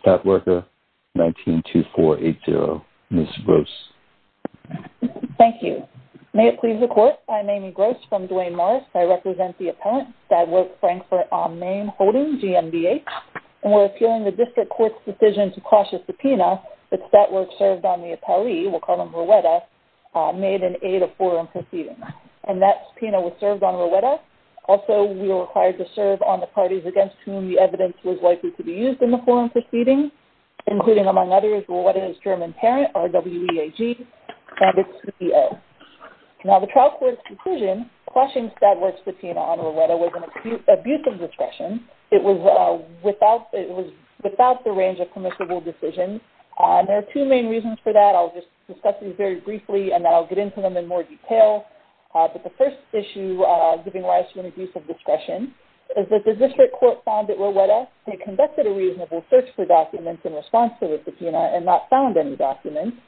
Stat Worker, 192480, Ms. Gross. Thank you. May it please the Court, I'm Amy Gross from Duane Morris. I represent the appellant, Stat Work Frankfurt on Main Holding, GMBH, and we're appealing the District Court's decision to cross a subpoena that Stat Work served on the appellee, we'll call him Rowetta, made in aid of forum proceedings, and that subpoena was served on Rowetta. Also, we were required to serve on the parties against whom the evidence was likely to be used in the forum proceedings, including, among others, Rowetta's German parent, RWEAG, and its CEO. Now, the trial court's conclusion, crossing Stat Work's subpoena on Rowetta was an abuse of discretion. It was without the range of permissible decisions. There are two main reasons for that. I'll just discuss these very briefly, and then I'll get into them in more detail. But the first issue giving rise to an abuse of discretion is that the District Court found that Rowetta had conducted a reasonable search for documents in response to the subpoena and not found any documents.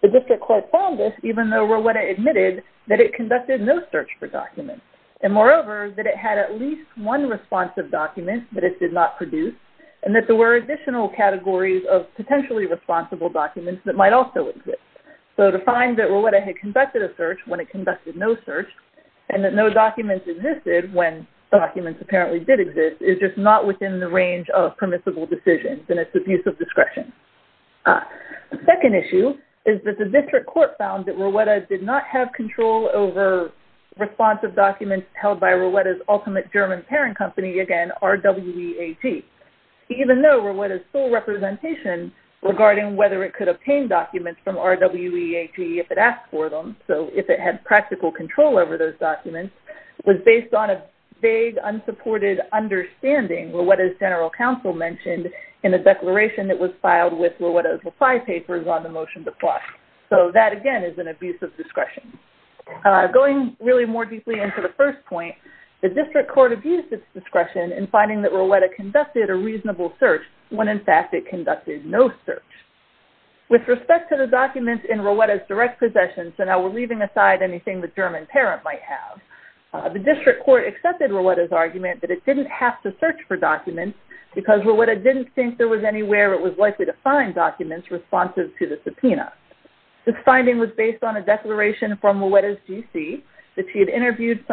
The District Court found this even though Rowetta admitted that it conducted no search for documents, and moreover, that it had at least one responsive document that it did not produce, and that there were additional categories of potentially responsible documents that might also exist. So to find that Rowetta had conducted a search when it conducted no search, and that no documents existed when documents apparently did exist, is just not within the range of permissible decisions, and it's abuse of discretion. The second issue is that the District Court found that Rowetta did not have control over responsive documents held by Rowetta's ultimate German parent company, again, RWEAG, even though Rowetta's sole representation regarding whether it could obtain documents from RWEAG if it asked for them, so if it had practical control over those documents, was based on a vague, unsupported understanding Rowetta's general counsel mentioned in the declaration that was filed with Rowetta's reply papers on the motion to plot. So that, again, is an abuse of discretion. Going really more deeply into the first point, the District Court abused its discretion in finding that Rowetta conducted a reasonable search when, in fact, it conducted no search. With respect to the documents in Rowetta's direct possession, so now we're leaving aside anything the German parent might have, the District Court accepted Rowetta's argument that it didn't have to search for documents because Rowetta didn't think there was anywhere it was likely to find documents responsive to the subpoena. This finding was based on a declaration from Rowetta's GC that she had interviewed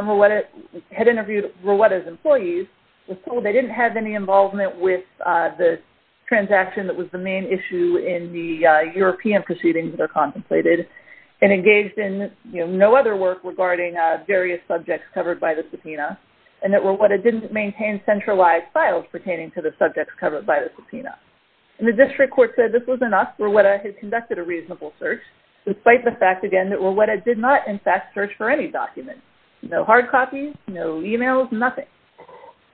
Rowetta's employees, was told they didn't have any involvement with the transaction that was the main issue in the European proceedings that are contemplated, and engaged in no other work regarding various subjects covered by the subpoena, and that Rowetta didn't maintain centralized files pertaining to the subjects covered by the subpoena. And the District Court said this was enough, Rowetta had conducted a reasonable search, despite the fact, again, that Rowetta did not, in fact, search for any documents. No hard copies, no emails, nothing.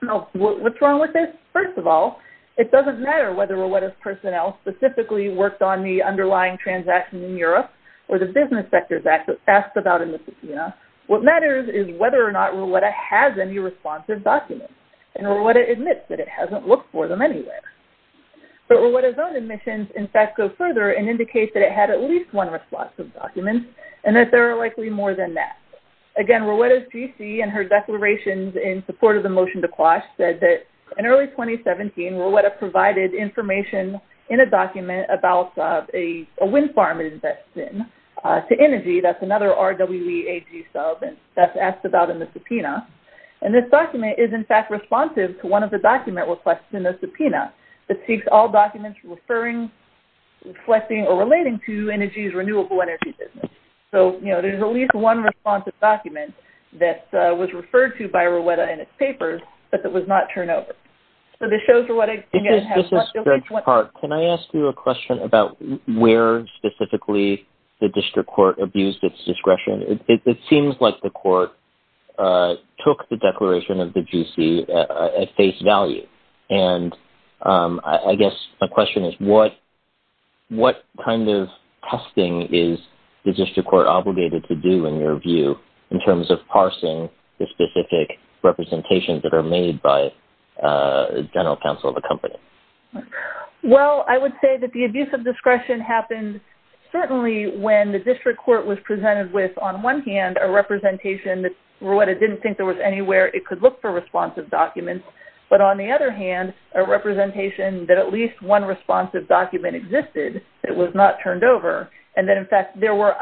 Now, what's wrong with this? First of all, it doesn't matter whether Rowetta's personnel specifically worked on the underlying transaction in Europe or the Business Sectors Act that's asked about in the subpoena. What matters is whether or not Rowetta has any responsive documents. And Rowetta admits that it hasn't looked for them anywhere. But Rowetta's own admissions, in fact, go further and indicate that it had at least one responsive document, and that there are likely more than that. Again, Rowetta's GC and her declarations in support of the motion to quash said that in early 2017, Rowetta provided information in a document about a wind farm that invests in, to Energi, that's another RWEAG sub that's asked about in the subpoena. And this document is, in fact, responsive to one of the document requests in the subpoena. It seeks all documents referring, reflecting, or relating to Energi's renewable energy business. So, you know, there's at least one responsive document that was referred to by Rowetta in its papers, but that was not turned over. So this shows Rowetta, again, has... This is Greg Park. Can I ask you a question about where, specifically, the District Court abused its discretion? It seems like the court took the declaration of the GC at face value. And I guess my question is, what kind of testing is the District Court obligated to do, in your view, in terms of parsing the specific representations that are made by the general counsel of the company? Well, I would say that the abuse of discretion happened, certainly, when the District Court was presented with, on one hand, a representation that Rowetta didn't think there was anywhere it could look for responsive documents, but, on the other hand, a representation that at least one responsive document existed that was not turned over, and that, in fact, there were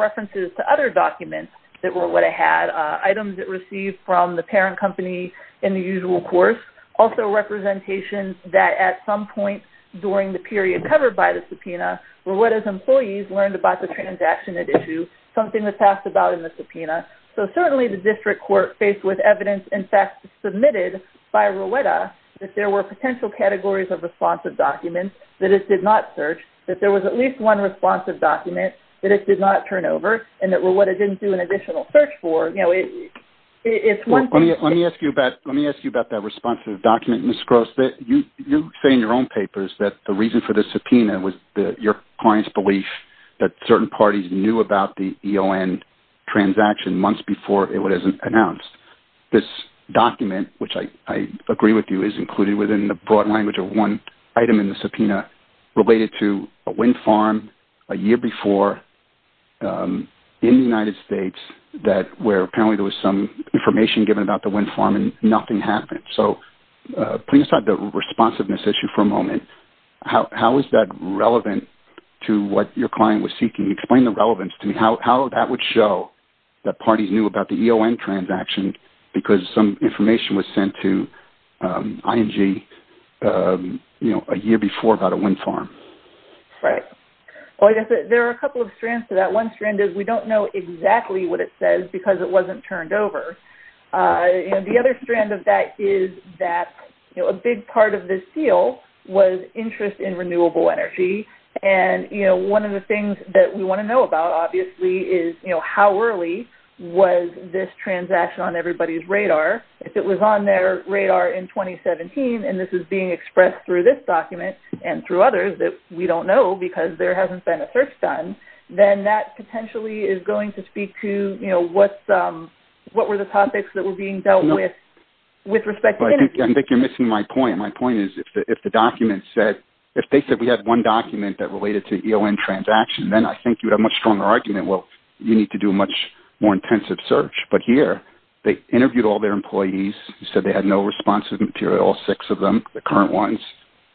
references to other documents that Rowetta had, items it received from the parent company in the usual course, also representations that, at some point during the period covered by the subpoena, Rowetta's employees learned about the transaction at issue, something that passed about in the subpoena. So, certainly, the District Court faced with evidence, in fact, submitted by Rowetta that there were potential categories of responsive documents that it did not search, that there was at least one responsive document that it did not turn over, and that Rowetta didn't do an additional search for. Let me ask you about that responsive document, Ms. Gross. You say in your own papers that the reason for the subpoena was your client's belief that certain parties knew about the EON transaction months before it was announced. This document, which I agree with you, is included within the broad language of one item in the subpoena related to a wind farm a year before in the United States where apparently there was some information given about the wind farm and nothing happened. So, putting aside the responsiveness issue for a moment, how is that relevant to what your client was seeking? Can you explain the relevance to me? How that would show that parties knew about the EON transaction because some information was sent to ING a year before about a wind farm? Right. Well, I guess there are a couple of strands to that. One strand is we don't know exactly what it says because it wasn't turned over. The other strand of that is that a big part of this deal was interest in renewable energy, and one of the things that we want to know about obviously is how early was this transaction on everybody's radar. If it was on their radar in 2017 and this is being expressed through this document and through others that we don't know because there hasn't been a search done, then that potentially is going to speak to what were the topics that were being dealt with with respect to energy. I think you're missing my point. My point is if the document said, if they said we had one document that related to EON transaction, then I think you'd have a much stronger argument. Well, you need to do a much more intensive search, but here they interviewed all their employees. They said they had no responsive material, all six of them, the current ones.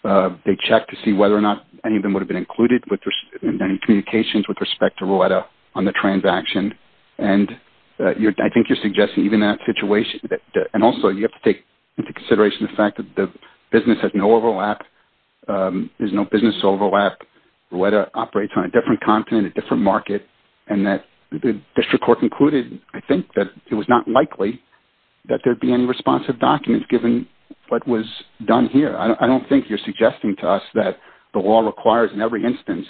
They checked to see whether or not any of them would have been included in any communications with respect to Rowetta on the transaction, and I think you're suggesting even that situation, and also you have to take into consideration the fact that the business has no overlap. There's no business overlap. Rowetta operates on a different continent, a different market, and that the district court concluded, I think, that it was not likely that there would be any responsive documents given what was done here. I don't think you're suggesting to us that the law requires in every instance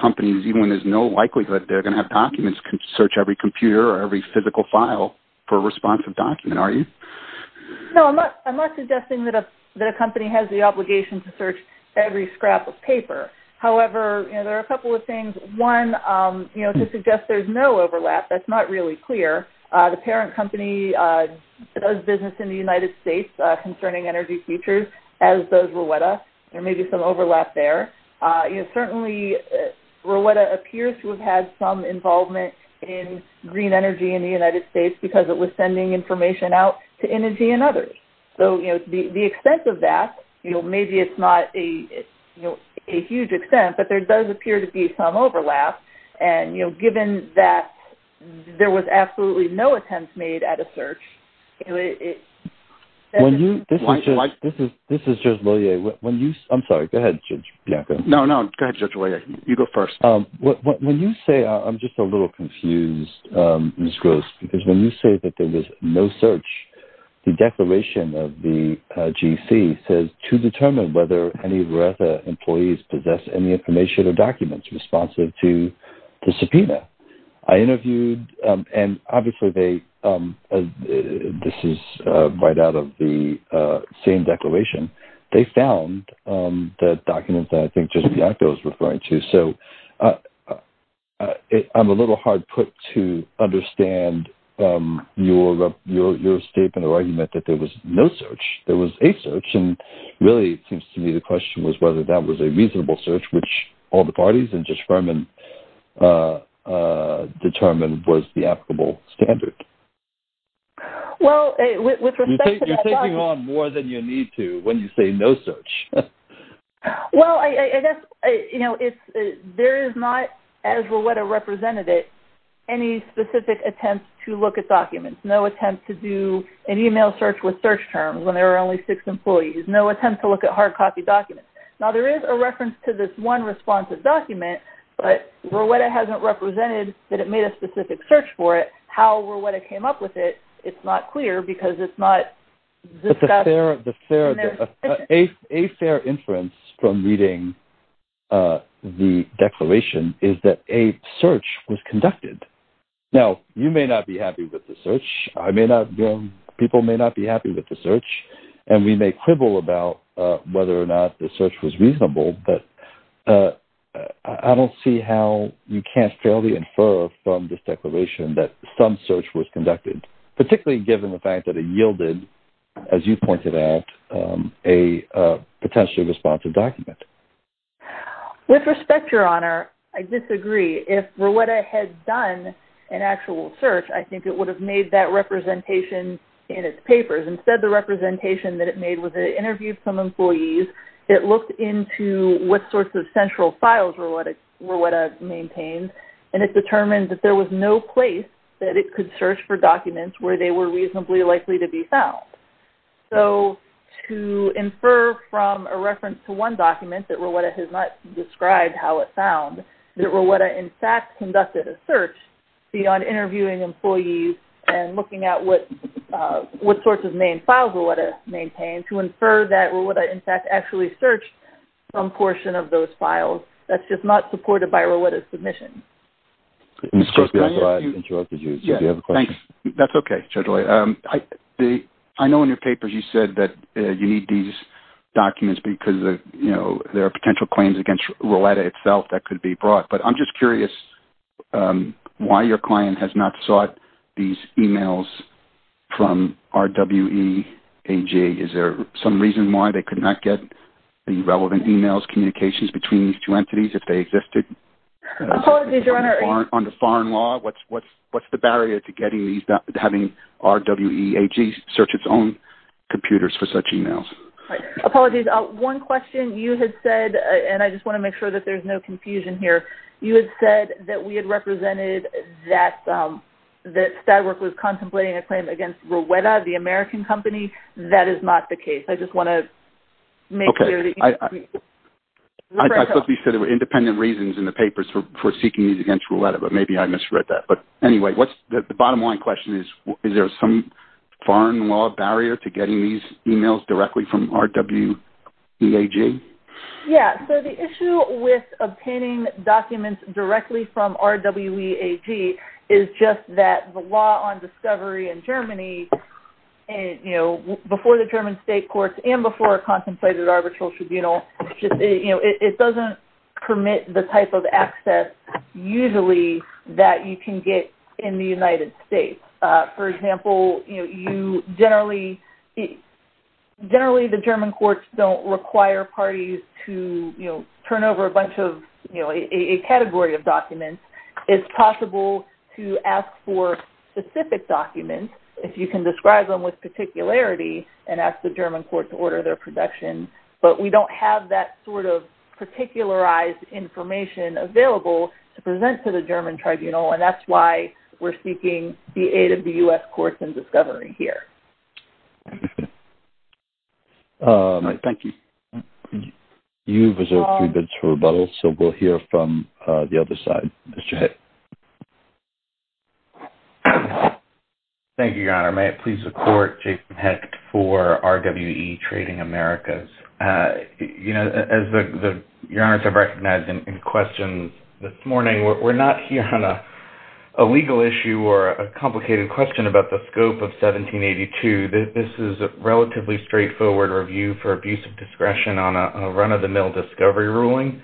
companies, even when there's no likelihood they're going to have documents, can search every computer or every physical file for a responsive document, are you? No, I'm not suggesting that a company has the obligation to search every scrap of paper. However, there are a couple of things. One, to suggest there's no overlap, that's not really clear. The parent company does business in the United States concerning energy features, as does Rowetta. There may be some overlap there. Certainly, Rowetta appears to have had some involvement in green energy in the United States because it was sending information out to energy and others. So the extent of that, maybe it's not a huge extent, but there does appear to be some overlap, and given that there was absolutely no attempt made at a search, it doesn't seem likely. This is Judge Lillier. I'm sorry, go ahead, Judge Bianco. No, no, go ahead, Judge Lillier. You go first. When you say, I'm just a little confused, Ms. Gross, because when you say that there was no search, the declaration of the GC says, to determine whether any Rowetta employees possess any information or documents responsive to the subpoena. I interviewed, and obviously this is right out of the same declaration. They found the documents that I think Judge Bianco is referring to. So I'm a little hard put to understand your statement or argument that there was no search. There was a search, and really it seems to me the question was whether that was a reasonable search, which all the parties and Judge Furman determined was the applicable standard. You're taking on more than you need to when you say no search. Well, I guess there is not, as Rowetta represented it, any specific attempt to look at documents, no attempt to do an email search with search terms when there are only six employees, no attempt to look at hard-copy documents. Now, there is a reference to this one responsive document, but Rowetta hasn't represented that it made a specific search for it. How Rowetta came up with it, it's not clear because it's not discussed. A fair inference from reading the declaration is that a search was conducted. Now, you may not be happy with the search. People may not be happy with the search, and we may quibble about whether or not the search was reasonable, but I don't see how you can't fairly infer from this declaration that some search was conducted, particularly given the fact that it yielded, as you pointed out, a potentially responsive document. With respect, Your Honor, I disagree. If Rowetta had done an actual search, I think it would have made that representation in its papers. Instead, the representation that it made was it interviewed some employees, it looked into what sorts of central files Rowetta maintained, and it determined that there was no place that it could search for documents where they were reasonably likely to be found. So to infer from a reference to one document that Rowetta has not described how it found, that Rowetta, in fact, conducted a search beyond interviewing employees and looking at what sorts of main files Rowetta maintained, to infer that Rowetta, in fact, actually searched some portion of those files, that's just not supported by Rowetta's submission. Mr. Osterweil, I interrupted you, so do you have a question? That's okay, Judge O'Leary. I know in your papers you said that you need these documents because, you know, there are potential claims against Rowetta itself that could be brought, but I'm just curious why your client has not sought these e-mails from RWEAG. Is there some reason why they could not get any relevant e-mails, communications between these two entities if they existed under foreign law? What's the barrier to having RWEAG search its own computers for such e-mails? Apologies. Apologies. One question, you had said, and I just want to make sure that there's no confusion here, you had said that we had represented that Stadwerk was contemplating a claim against Rowetta, the American company. That is not the case. I just want to make clear that you agree. I thought you said there were independent reasons in the papers for seeking these against Rowetta, but maybe I misread that. But anyway, the bottom line question is, is there some foreign law barrier to getting these e-mails directly from RWEAG? Yeah. So the issue with obtaining documents directly from RWEAG is just that the law on discovery in Germany, you know, before the German state courts and before a contemplated arbitral tribunal, you know, it doesn't permit the type of access usually that you can get in the United States. For example, you know, generally the German courts don't require parties to, you know, turn over a bunch of, you know, a category of documents. It's possible to ask for specific documents if you can describe them with particularity and ask the German court to order their protection. But we don't have that sort of particularized information available to present to the German tribunal, and that's why we're seeking the aid of the U.S. courts in discovery here. Thank you. You've reserved three minutes for rebuttal, so we'll hear from the other side. Mr. Hecht. Thank you, Your Honor. May it please the court, Jason Hecht for RWE Trading Americas. You know, as Your Honors have recognized in questions this morning, we're not here on a legal issue or a complicated question about the scope of 1782. This is a relatively straightforward review for abuse of discretion on a run-of-the-mill discovery ruling.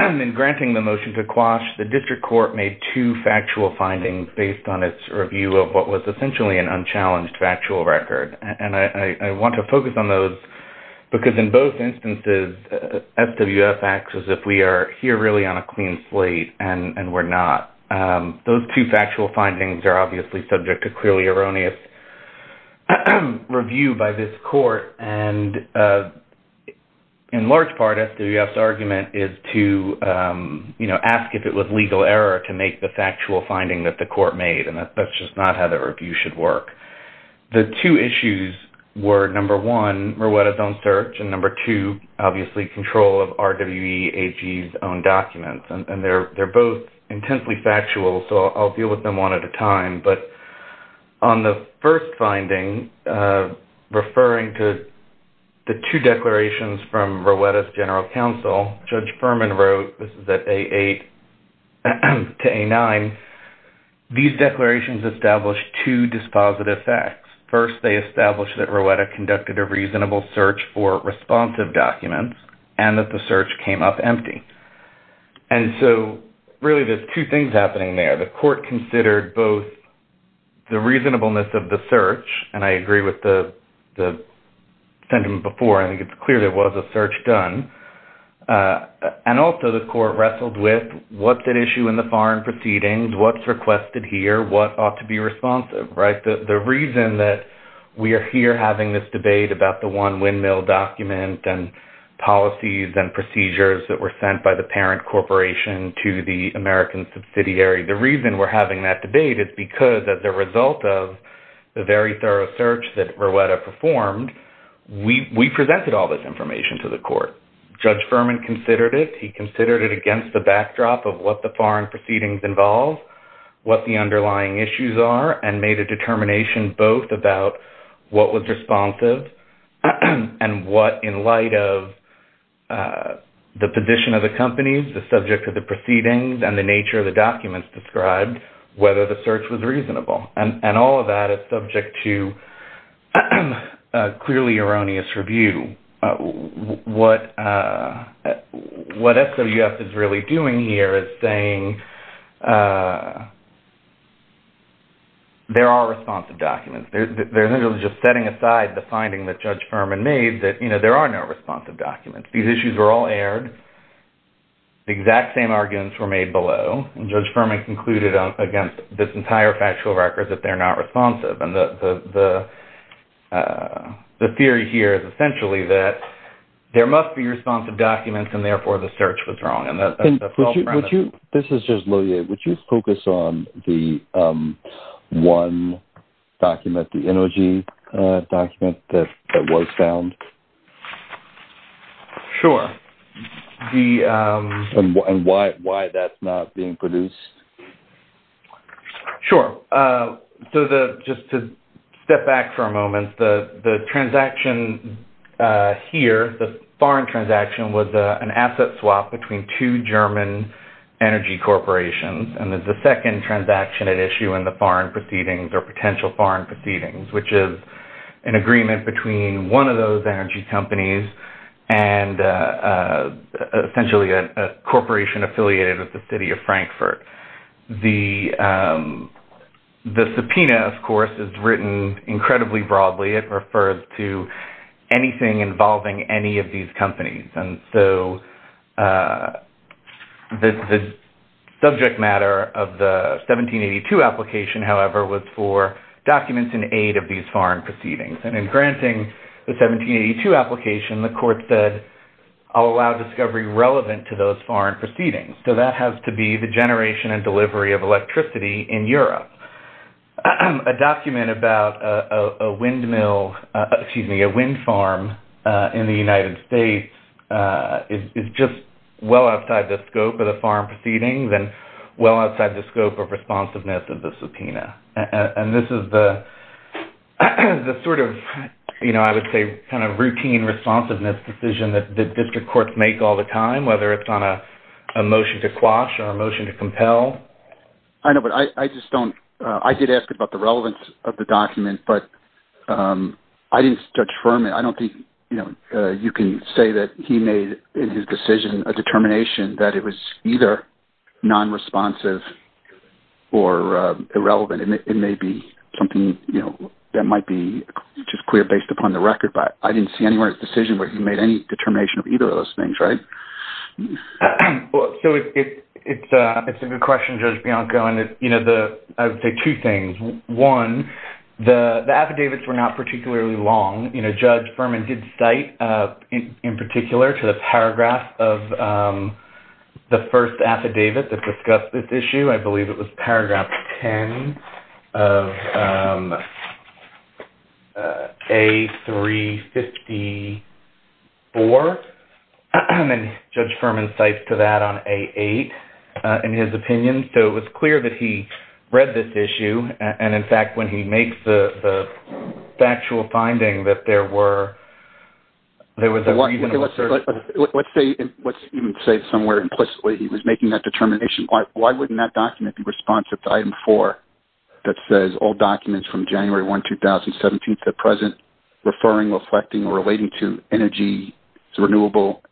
In granting the motion to quash, the district court made two factual findings based on its review of what was essentially an unchallenged factual record. And I want to focus on those because in both instances, SWF acts as if we are here really on a clean slate, and we're not. Those two factual findings are obviously subject to clearly erroneous review by this court, and in large part, SWF's argument is to ask if it was legal error to make the factual finding that the court made, and that's just not how the review should work. The two issues were, number one, Mrueta's own search, and number two, obviously, control of RWE AG's own documents. And they're both intensely factual, so I'll deal with them one at a time. But on the first finding, referring to the two declarations from Mrueta's general counsel, Judge Furman wrote, this is at A8 to A9, these declarations established two dispositive facts. First, they established that Mrueta conducted a reasonable search for responsive documents, and that the search came up empty. And so, really, there's two things happening there. The court considered both the reasonableness of the search, and I agree with the sentiment before. I think it's clear there was a search done. And also, the court wrestled with what's at issue in the foreign proceedings, what's requested here, what ought to be responsive, right? The reason that we are here having this debate about the one windmill document and policies and procedures that were sent by the parent corporation to the American subsidiary, the reason we're having that debate is because, as a result of the very thorough search that Mrueta performed, we presented all this information to the court. Judge Furman considered it. He considered it against the backdrop of what the foreign proceedings involve, what the underlying issues are, and made a determination both about what was responsive and what, in light of the position of the companies, the subject of the proceedings, and the nature of the documents described, whether the search was reasonable. And all of that is subject to a clearly erroneous review. What SWF is really doing here is saying there are responsive documents. They're literally just setting aside the finding that Judge Furman made that there are no responsive documents. These issues were all aired. The exact same arguments were made below, and Judge Furman concluded against this entire factual record that they're not responsive. And the theory here is essentially that there must be responsive documents, and therefore the search was wrong. And that's the full premise. This is just Lilia. Would you focus on the one document, the NOG document that was found? Sure. And why that's not being produced? Sure. So just to step back for a moment, the transaction here, the foreign transaction, was an asset swap between two German energy corporations. And the second transaction at issue in the foreign proceedings, or potential foreign proceedings, which is an agreement between one of those energy companies and essentially a corporation affiliated with the city of Frankfurt. The subpoena, of course, is written incredibly broadly. It refers to anything involving any of these companies. And so the subject matter of the 1782 application, however, was for documents in aid of these foreign proceedings. And in granting the 1782 application, the court said, I'll allow discovery relevant to those foreign proceedings. So that has to be the generation and delivery of electricity in Europe. A document about a windmill, excuse me, a wind farm in the United States is just well outside the scope of the foreign proceedings and well outside the scope of responsiveness of the subpoena. And this is the sort of, I would say, kind of routine responsiveness decision that district courts make all the time, whether it's on a motion to quash or a motion to compel. I know, but I just don't – I did ask about the relevance of the document, but I didn't judge firmly. I don't think you can say that he made in his decision a determination that it was either non-responsive or irrelevant. It may be something that might be just clear based upon the record, but I didn't see anywhere in his decision where he made any determination of either of those things, right? So it's a good question, Judge Bianco, and, you know, I would say two things. One, the affidavits were not particularly long. You know, Judge Furman did cite, in particular, to the paragraph of the first affidavit that discussed this issue. I believe it was paragraph 10 of A354, and Judge Furman cites to that on A8 in his opinion. So it was clear that he read this issue, and, in fact, when he makes the factual finding that there were – Let's say somewhere implicitly he was making that determination. Why wouldn't that document be responsive to item four that says, all documents from January 1, 2017 to the present referring, reflecting, or relating to energy, renewable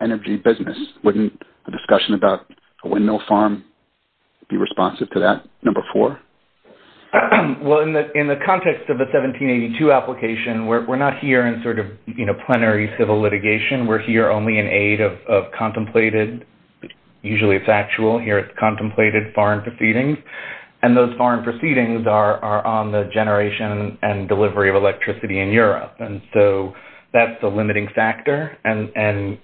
energy business? Wouldn't a discussion about a windmill farm be responsive to that number four? Well, in the context of the 1782 application, we're not here in sort of plenary civil litigation. We're here only in aid of contemplated – usually it's factual. Here it's contemplated foreign proceedings, and those foreign proceedings are on the generation and delivery of electricity in Europe, and so that's the limiting factor. And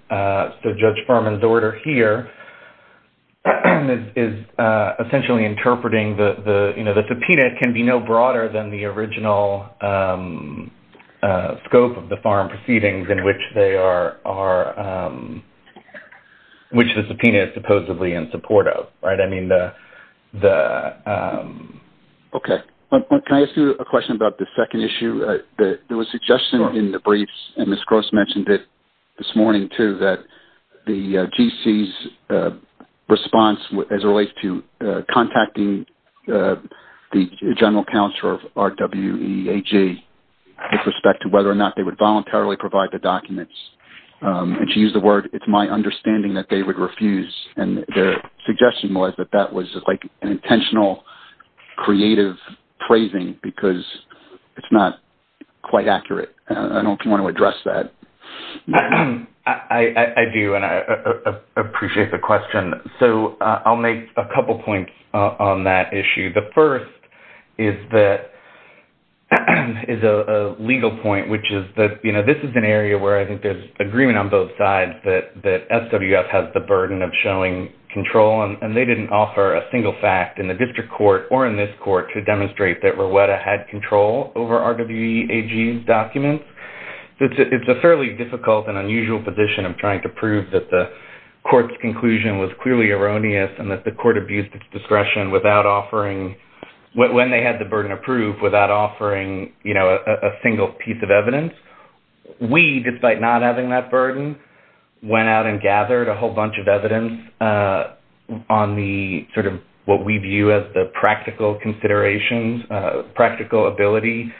so Judge Furman's order here is essentially interpreting the – you know, the subpoena can be no broader than the original scope of the foreign proceedings in which they are – which the subpoena is supposedly in support of, right? I mean the – Okay. Can I ask you a question about the second issue? There was suggestion in the briefs, and Ms. Gross mentioned it this morning too, that the GC's response as it relates to contacting the general counselor of RWEAG with respect to whether or not they would voluntarily provide the documents. And she used the word, it's my understanding that they would refuse, and their suggestion was that that was like an intentional creative praising because it's not quite accurate. I don't want to address that. I do, and I appreciate the question. So I'll make a couple points on that issue. The first is that – is a legal point, which is that, you know, this is an area where I think there's agreement on both sides that SWF has the burden of showing control, and they didn't offer a single fact in the district court or in this court to demonstrate that Rowetta had control over RWEAG's documents. It's a fairly difficult and unusual position of trying to prove that the court's conclusion was clearly erroneous and that the court abused its discretion without offering – when they had the burden of proof without offering, you know, a single piece of evidence. We, despite not having that burden, went out and gathered a whole bunch of evidence on the sort of what we view as the practical considerations, practical ability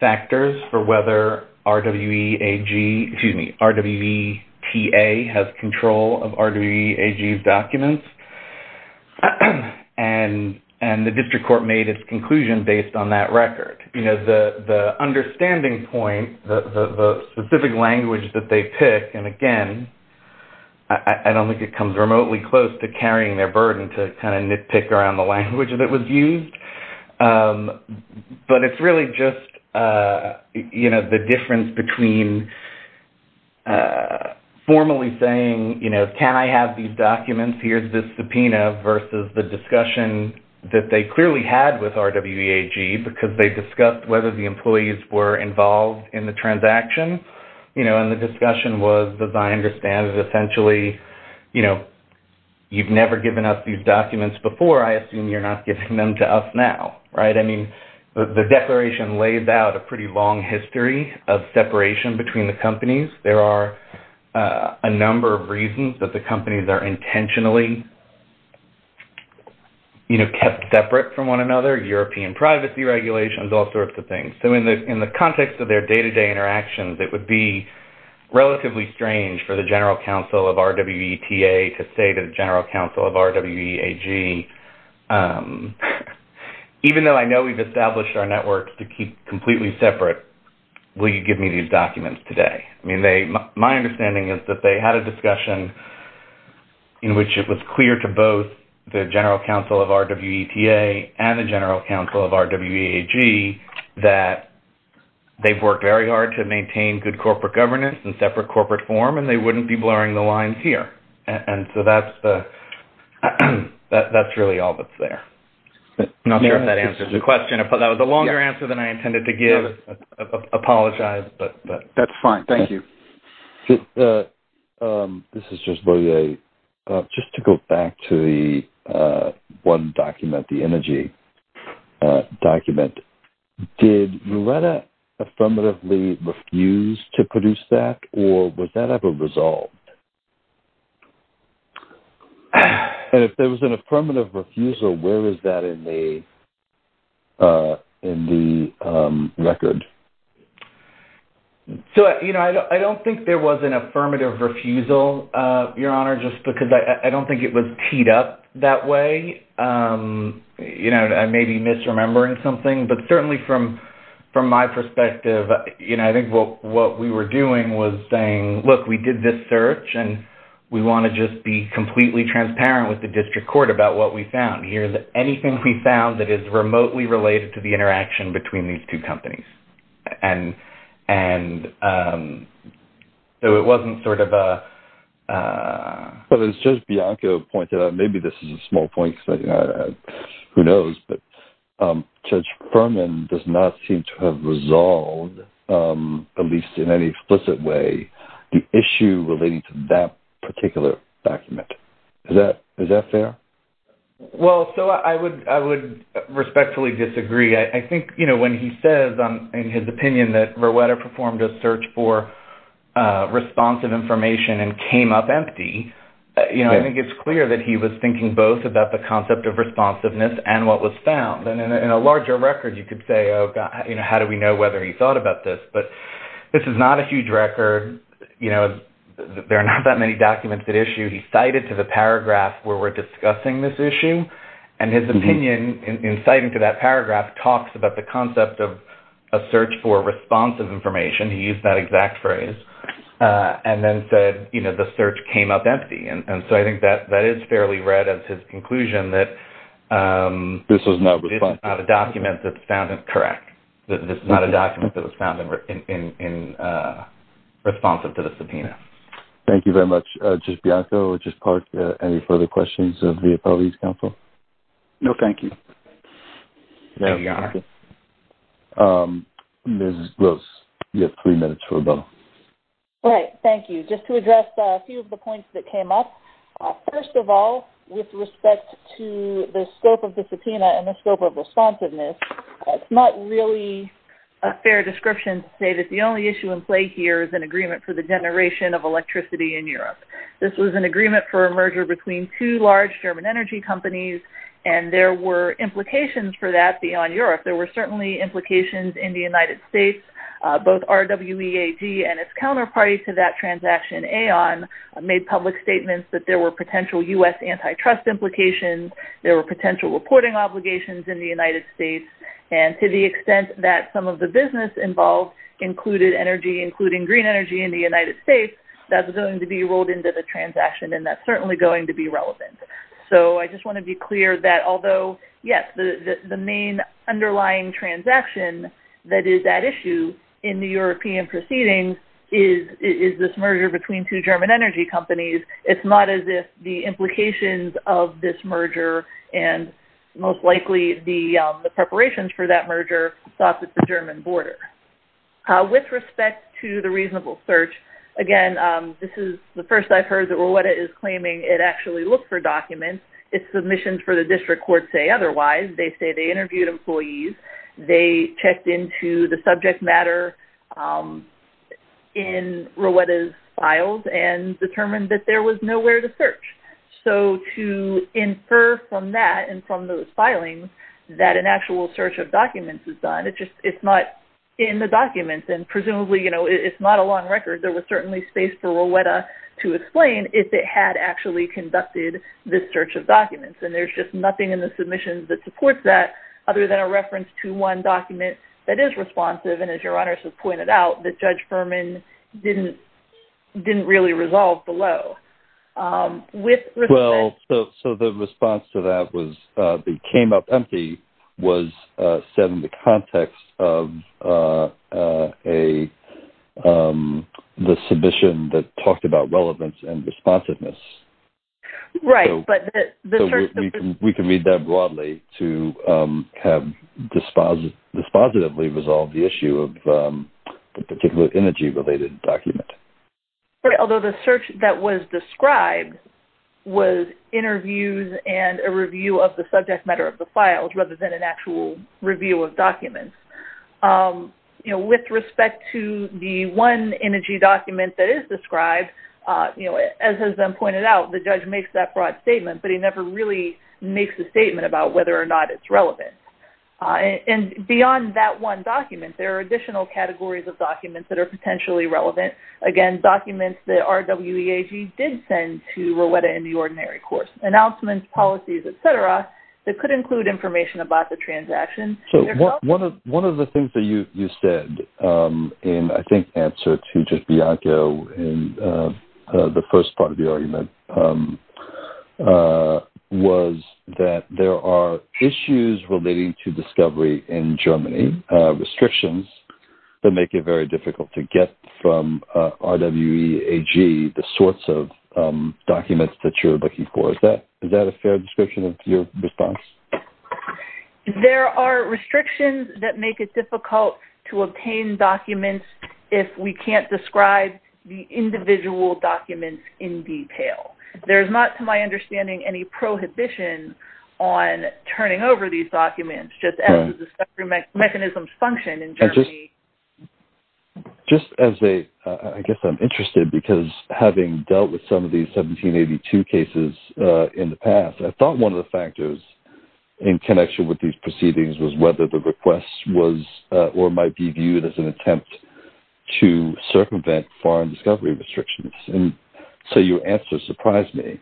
factors for whether RWEAG – excuse me, RWETA has control of RWEAG's documents, and the district court made its conclusion based on that record. You know, the understanding point, the specific language that they pick, and again, I don't think it comes remotely close to carrying their burden to kind of nitpick around the language that was used. But it's really just, you know, the difference between formally saying, you know, can I have these documents, here's this subpoena, versus the discussion that they clearly had with RWEAG because they discussed whether the employees were involved in the transaction. You know, and the discussion was, as I understand it, essentially, you know, you've never given us these documents before, I assume you're not giving them to us now, right? I mean, the declaration lays out a pretty long history of separation between the companies. There are a number of reasons that the companies are intentionally, you know, kept separate from one another, European privacy regulations, all sorts of things. So in the context of their day-to-day interactions, it would be relatively strange for the General Counsel of RWETA to say to the General Counsel of RWEAG, even though I know we've established our networks to keep completely separate, will you give me these documents today? I mean, my understanding is that they had a discussion in which it was clear to both the General Counsel of RWETA and the General Counsel of RWEAG that they've worked very hard to maintain good corporate governance and separate corporate form, and they wouldn't be blurring the lines here. And so that's really all that's there. I'm not sure if that answers the question. If that was a longer answer than I intended to give, I apologize. That's fine. Thank you. This is just for you. Just to go back to the one document, the energy document, did RWETA affirmatively refuse to produce that, or was that ever resolved? And if there was an affirmative refusal, where is that in the record? So, you know, I don't think there was an affirmative refusal. Your Honor, just because I don't think it was teed up that way. You know, I may be misremembering something, but certainly from my perspective, you know, I think what we were doing was saying, look, we did this search, and we want to just be completely transparent with the district court about what we found. Here's anything we found that is remotely related to the interaction between these two companies. And so it wasn't sort of a... Well, as Judge Bianco pointed out, maybe this is a small point, who knows, but Judge Furman does not seem to have resolved, at least in any explicit way, the issue relating to that particular document. Is that fair? Well, so I would respectfully disagree. I think, you know, when he says in his opinion that Rowetta performed a search for responsive information and came up empty, you know, I think it's clear that he was thinking both about the concept of responsiveness and what was found. And in a larger record, you could say, oh, God, you know, how do we know whether he thought about this? But this is not a huge record. You know, there are not that many documents at issue. He cited to the paragraph where we're discussing this issue, and his opinion in citing to that paragraph talks about the concept of a search for responsive information. He used that exact phrase and then said, you know, the search came up empty. And so I think that is fairly read as his conclusion that this is not a document that's found incorrect, that this is not a document that was found responsive to the subpoena. Thank you very much, Judge Bianco. Judge Park, any further questions of the Appellees Council? No, thank you. There you are. Ms. Gross, you have three minutes for a vote. All right. Thank you. Just to address a few of the points that came up, first of all, with respect to the scope of the subpoena and the scope of responsiveness, it's not really a fair description to say that the only issue in play here is an agreement for the generation of electricity in Europe. This was an agreement for a merger between two large German energy companies, and there were implications for that beyond Europe. There were certainly implications in the United States. Both RWEAG and its counterparty to that transaction, Aon, made public statements that there were potential U.S. antitrust implications. There were potential reporting obligations in the United States. And to the extent that some of the business involved included energy, including green energy, in the United States, that's going to be rolled into the transaction, and that's certainly going to be relevant. So I just want to be clear that although, yes, the main underlying transaction that is at issue in the European proceedings is this merger between two German energy companies, it's not as if the implications of this merger and most likely the preparations for that merger stopped at the German border. With respect to the reasonable search, again, this is the first I've heard that Rowetta is claiming it actually looked for documents. Its submissions for the district court say otherwise. They say they interviewed employees. They checked into the subject matter in Rowetta's files and determined that there was nowhere to search. So to infer from that and from those filings that an actual search of documents is done, it's not in the documents. And presumably, you know, it's not a long record. There was certainly space for Rowetta to explain if it had actually conducted this search of documents. And there's just nothing in the submissions that supports that other than a reference to one document that is responsive and, as Your Honors has pointed out, that Judge Furman didn't really resolve below. Well, so the response to that was the came up empty was set in the context of the submission that talked about relevance and responsiveness. Right. So we can read that broadly to have dispositively resolved the issue of the particular energy-related document. Right. Although the search that was described was interviews and a review of the subject matter of the files rather than an actual review of documents. You know, with respect to the one energy document that is described, you know, as has been pointed out, the judge makes that broad statement, but he never really makes a statement about whether or not it's relevant. And beyond that one document, there are additional categories of documents that are potentially relevant. Again, documents that RWEAG did send to Rowetta in the ordinary course, announcements, policies, et cetera, that could include information about the transaction. So one of the things that you said in, I think, answer to just Bianca in the first part of the argument, was that there are issues relating to discovery in Germany, restrictions that make it very difficult to get from RWEAG the sorts of documents that you're looking for. Is that a fair description of your response? There are restrictions that make it difficult to obtain documents if we can't describe the individual documents in detail. There's not, to my understanding, any prohibition on turning over these documents, just as the discovery mechanisms function in Germany. Just as a, I guess I'm interested because having dealt with some of these 1782 cases in the past, I thought one of the factors in connection with these proceedings was whether the request was or might be viewed as an attempt to circumvent foreign discovery restrictions. And so your answer surprised me.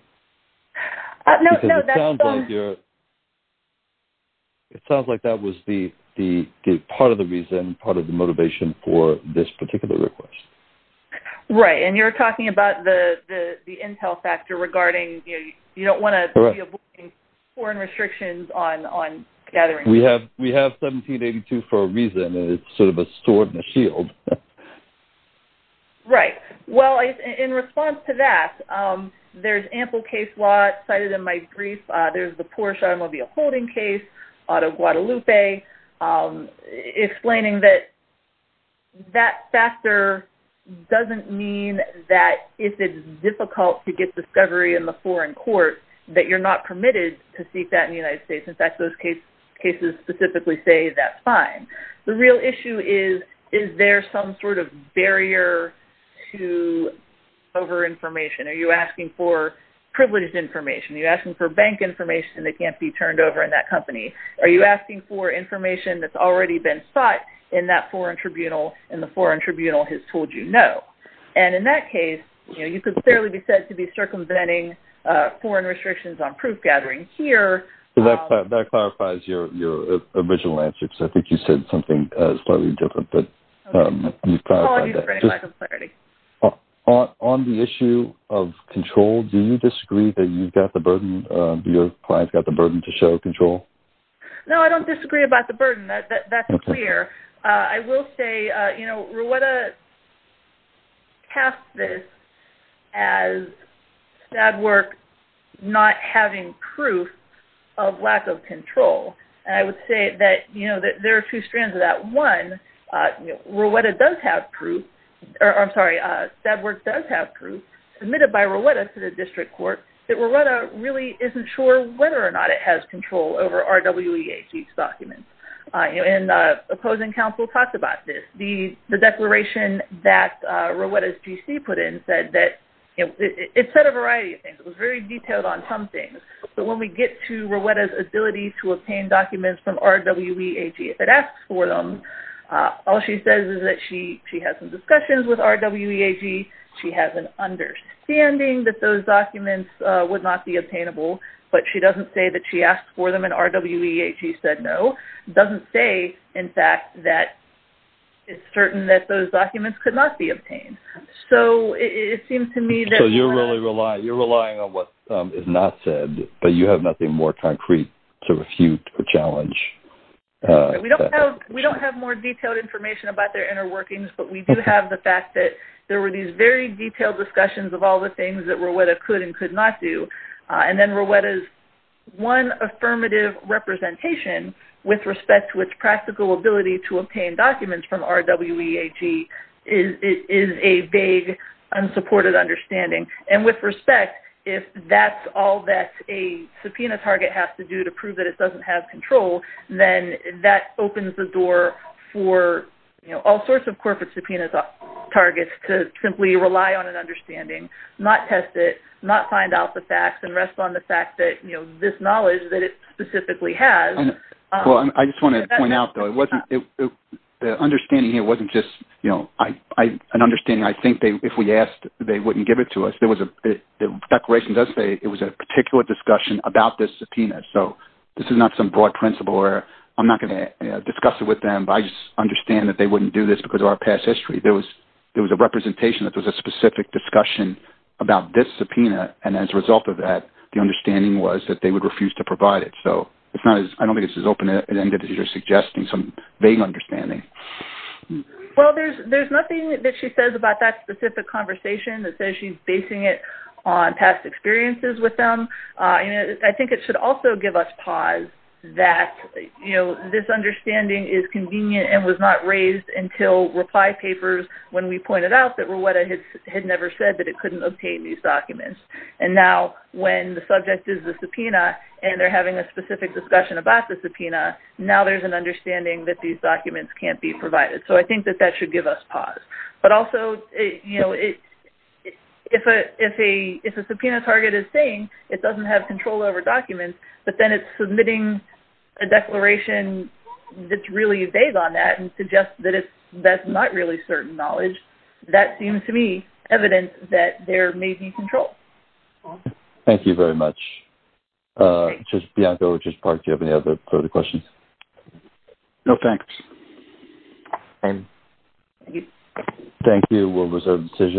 No, that's fine. It sounds like that was part of the reason, part of the motivation for this particular request. Right, and you're talking about the intel factor regarding, you don't want to be avoiding foreign restrictions on gathering. We have 1782 for a reason. It's sort of a sword and a shield. Right. Well, in response to that, there's ample case law cited in my brief. There's the Porsche automobile holding case out of Guadalupe, explaining that that factor doesn't mean that if it's difficult to get discovery in the foreign court, that you're not permitted to seek that in the United States. In fact, those cases specifically say that's fine. The real issue is, is there some sort of barrier to over-information? Are you asking for privileged information? Are you asking for bank information that can't be turned over in that company? Are you asking for information that's already been sought in that foreign tribunal, and the foreign tribunal has told you no? And in that case, you could fairly be said to be circumventing foreign restrictions on proof gathering here. That clarifies your original answer, because I think you said something slightly different. Apologies for any lack of clarity. On the issue of control, do you disagree that you've got the burden, do your clients got the burden to show control? No, I don't disagree about the burden. That's clear. I will say, you know, Rweta cast this as Stadwerk not having proof of lack of control. And I would say that, you know, there are two strands of that. One, Rweta does have proof, or I'm sorry, Stadwerk does have proof, submitted by Rweta to the district court that Rweta really isn't sure whether or not it has control over RWEAG's documents. And opposing counsel talked about this. The declaration that Rweta's GC put in said that it said a variety of things. It was very detailed on some things. But when we get to Rweta's ability to obtain documents from RWEAG, if it asks for them, all she says is that she has some discussions with RWEAG. She has an understanding that those documents would not be obtainable, but she doesn't say that she asked for them and RWEAG said no. It doesn't say, in fact, that it's certain that those documents could not be obtained. So it seems to me that you're relying on what is not said, We don't have more detailed information about their inner workings, but we do have the fact that there were these very detailed discussions of all the things that Rweta could and could not do. And then Rweta's one affirmative representation with respect to its practical ability to obtain documents from RWEAG is a vague, unsupported understanding. And with respect, if that's all that a subpoena target has to do to prove that it doesn't have control, then that opens the door for all sorts of corporate subpoenas targets to simply rely on an understanding, not test it, not find out the facts, and rest on the fact that this knowledge that it specifically has. I just want to point out, though, the understanding here wasn't just an understanding. I think if we asked, they wouldn't give it to us. The declaration does say it was a particular discussion about this subpoena. So this is not some broad principle where I'm not going to discuss it with them, but I just understand that they wouldn't do this because of our past history. There was a representation that there was a specific discussion about this subpoena, and as a result of that, the understanding was that they would refuse to provide it. So I don't think it's as open-ended as you're suggesting, some vague understanding. Well, there's nothing that she says about that specific conversation that says she's basing it on past experiences with them. I think it should also give us pause that this understanding is convenient and was not raised until reply papers when we pointed out that RWEAGA had never said that it couldn't obtain these documents. And now when the subject is the subpoena and they're having a specific discussion about the subpoena, now there's an understanding that these documents can't be provided. So I think that that should give us pause. But also, if a subpoena target is saying it doesn't have control over documents, but then it's submitting a declaration that's really vague on that and suggests that that's not really certain knowledge, that seems to me evidence that there may be control. Thank you very much. Just, Bianca or just Park, do you have any other further questions? No, thanks. Thank you. We'll reserve the decision.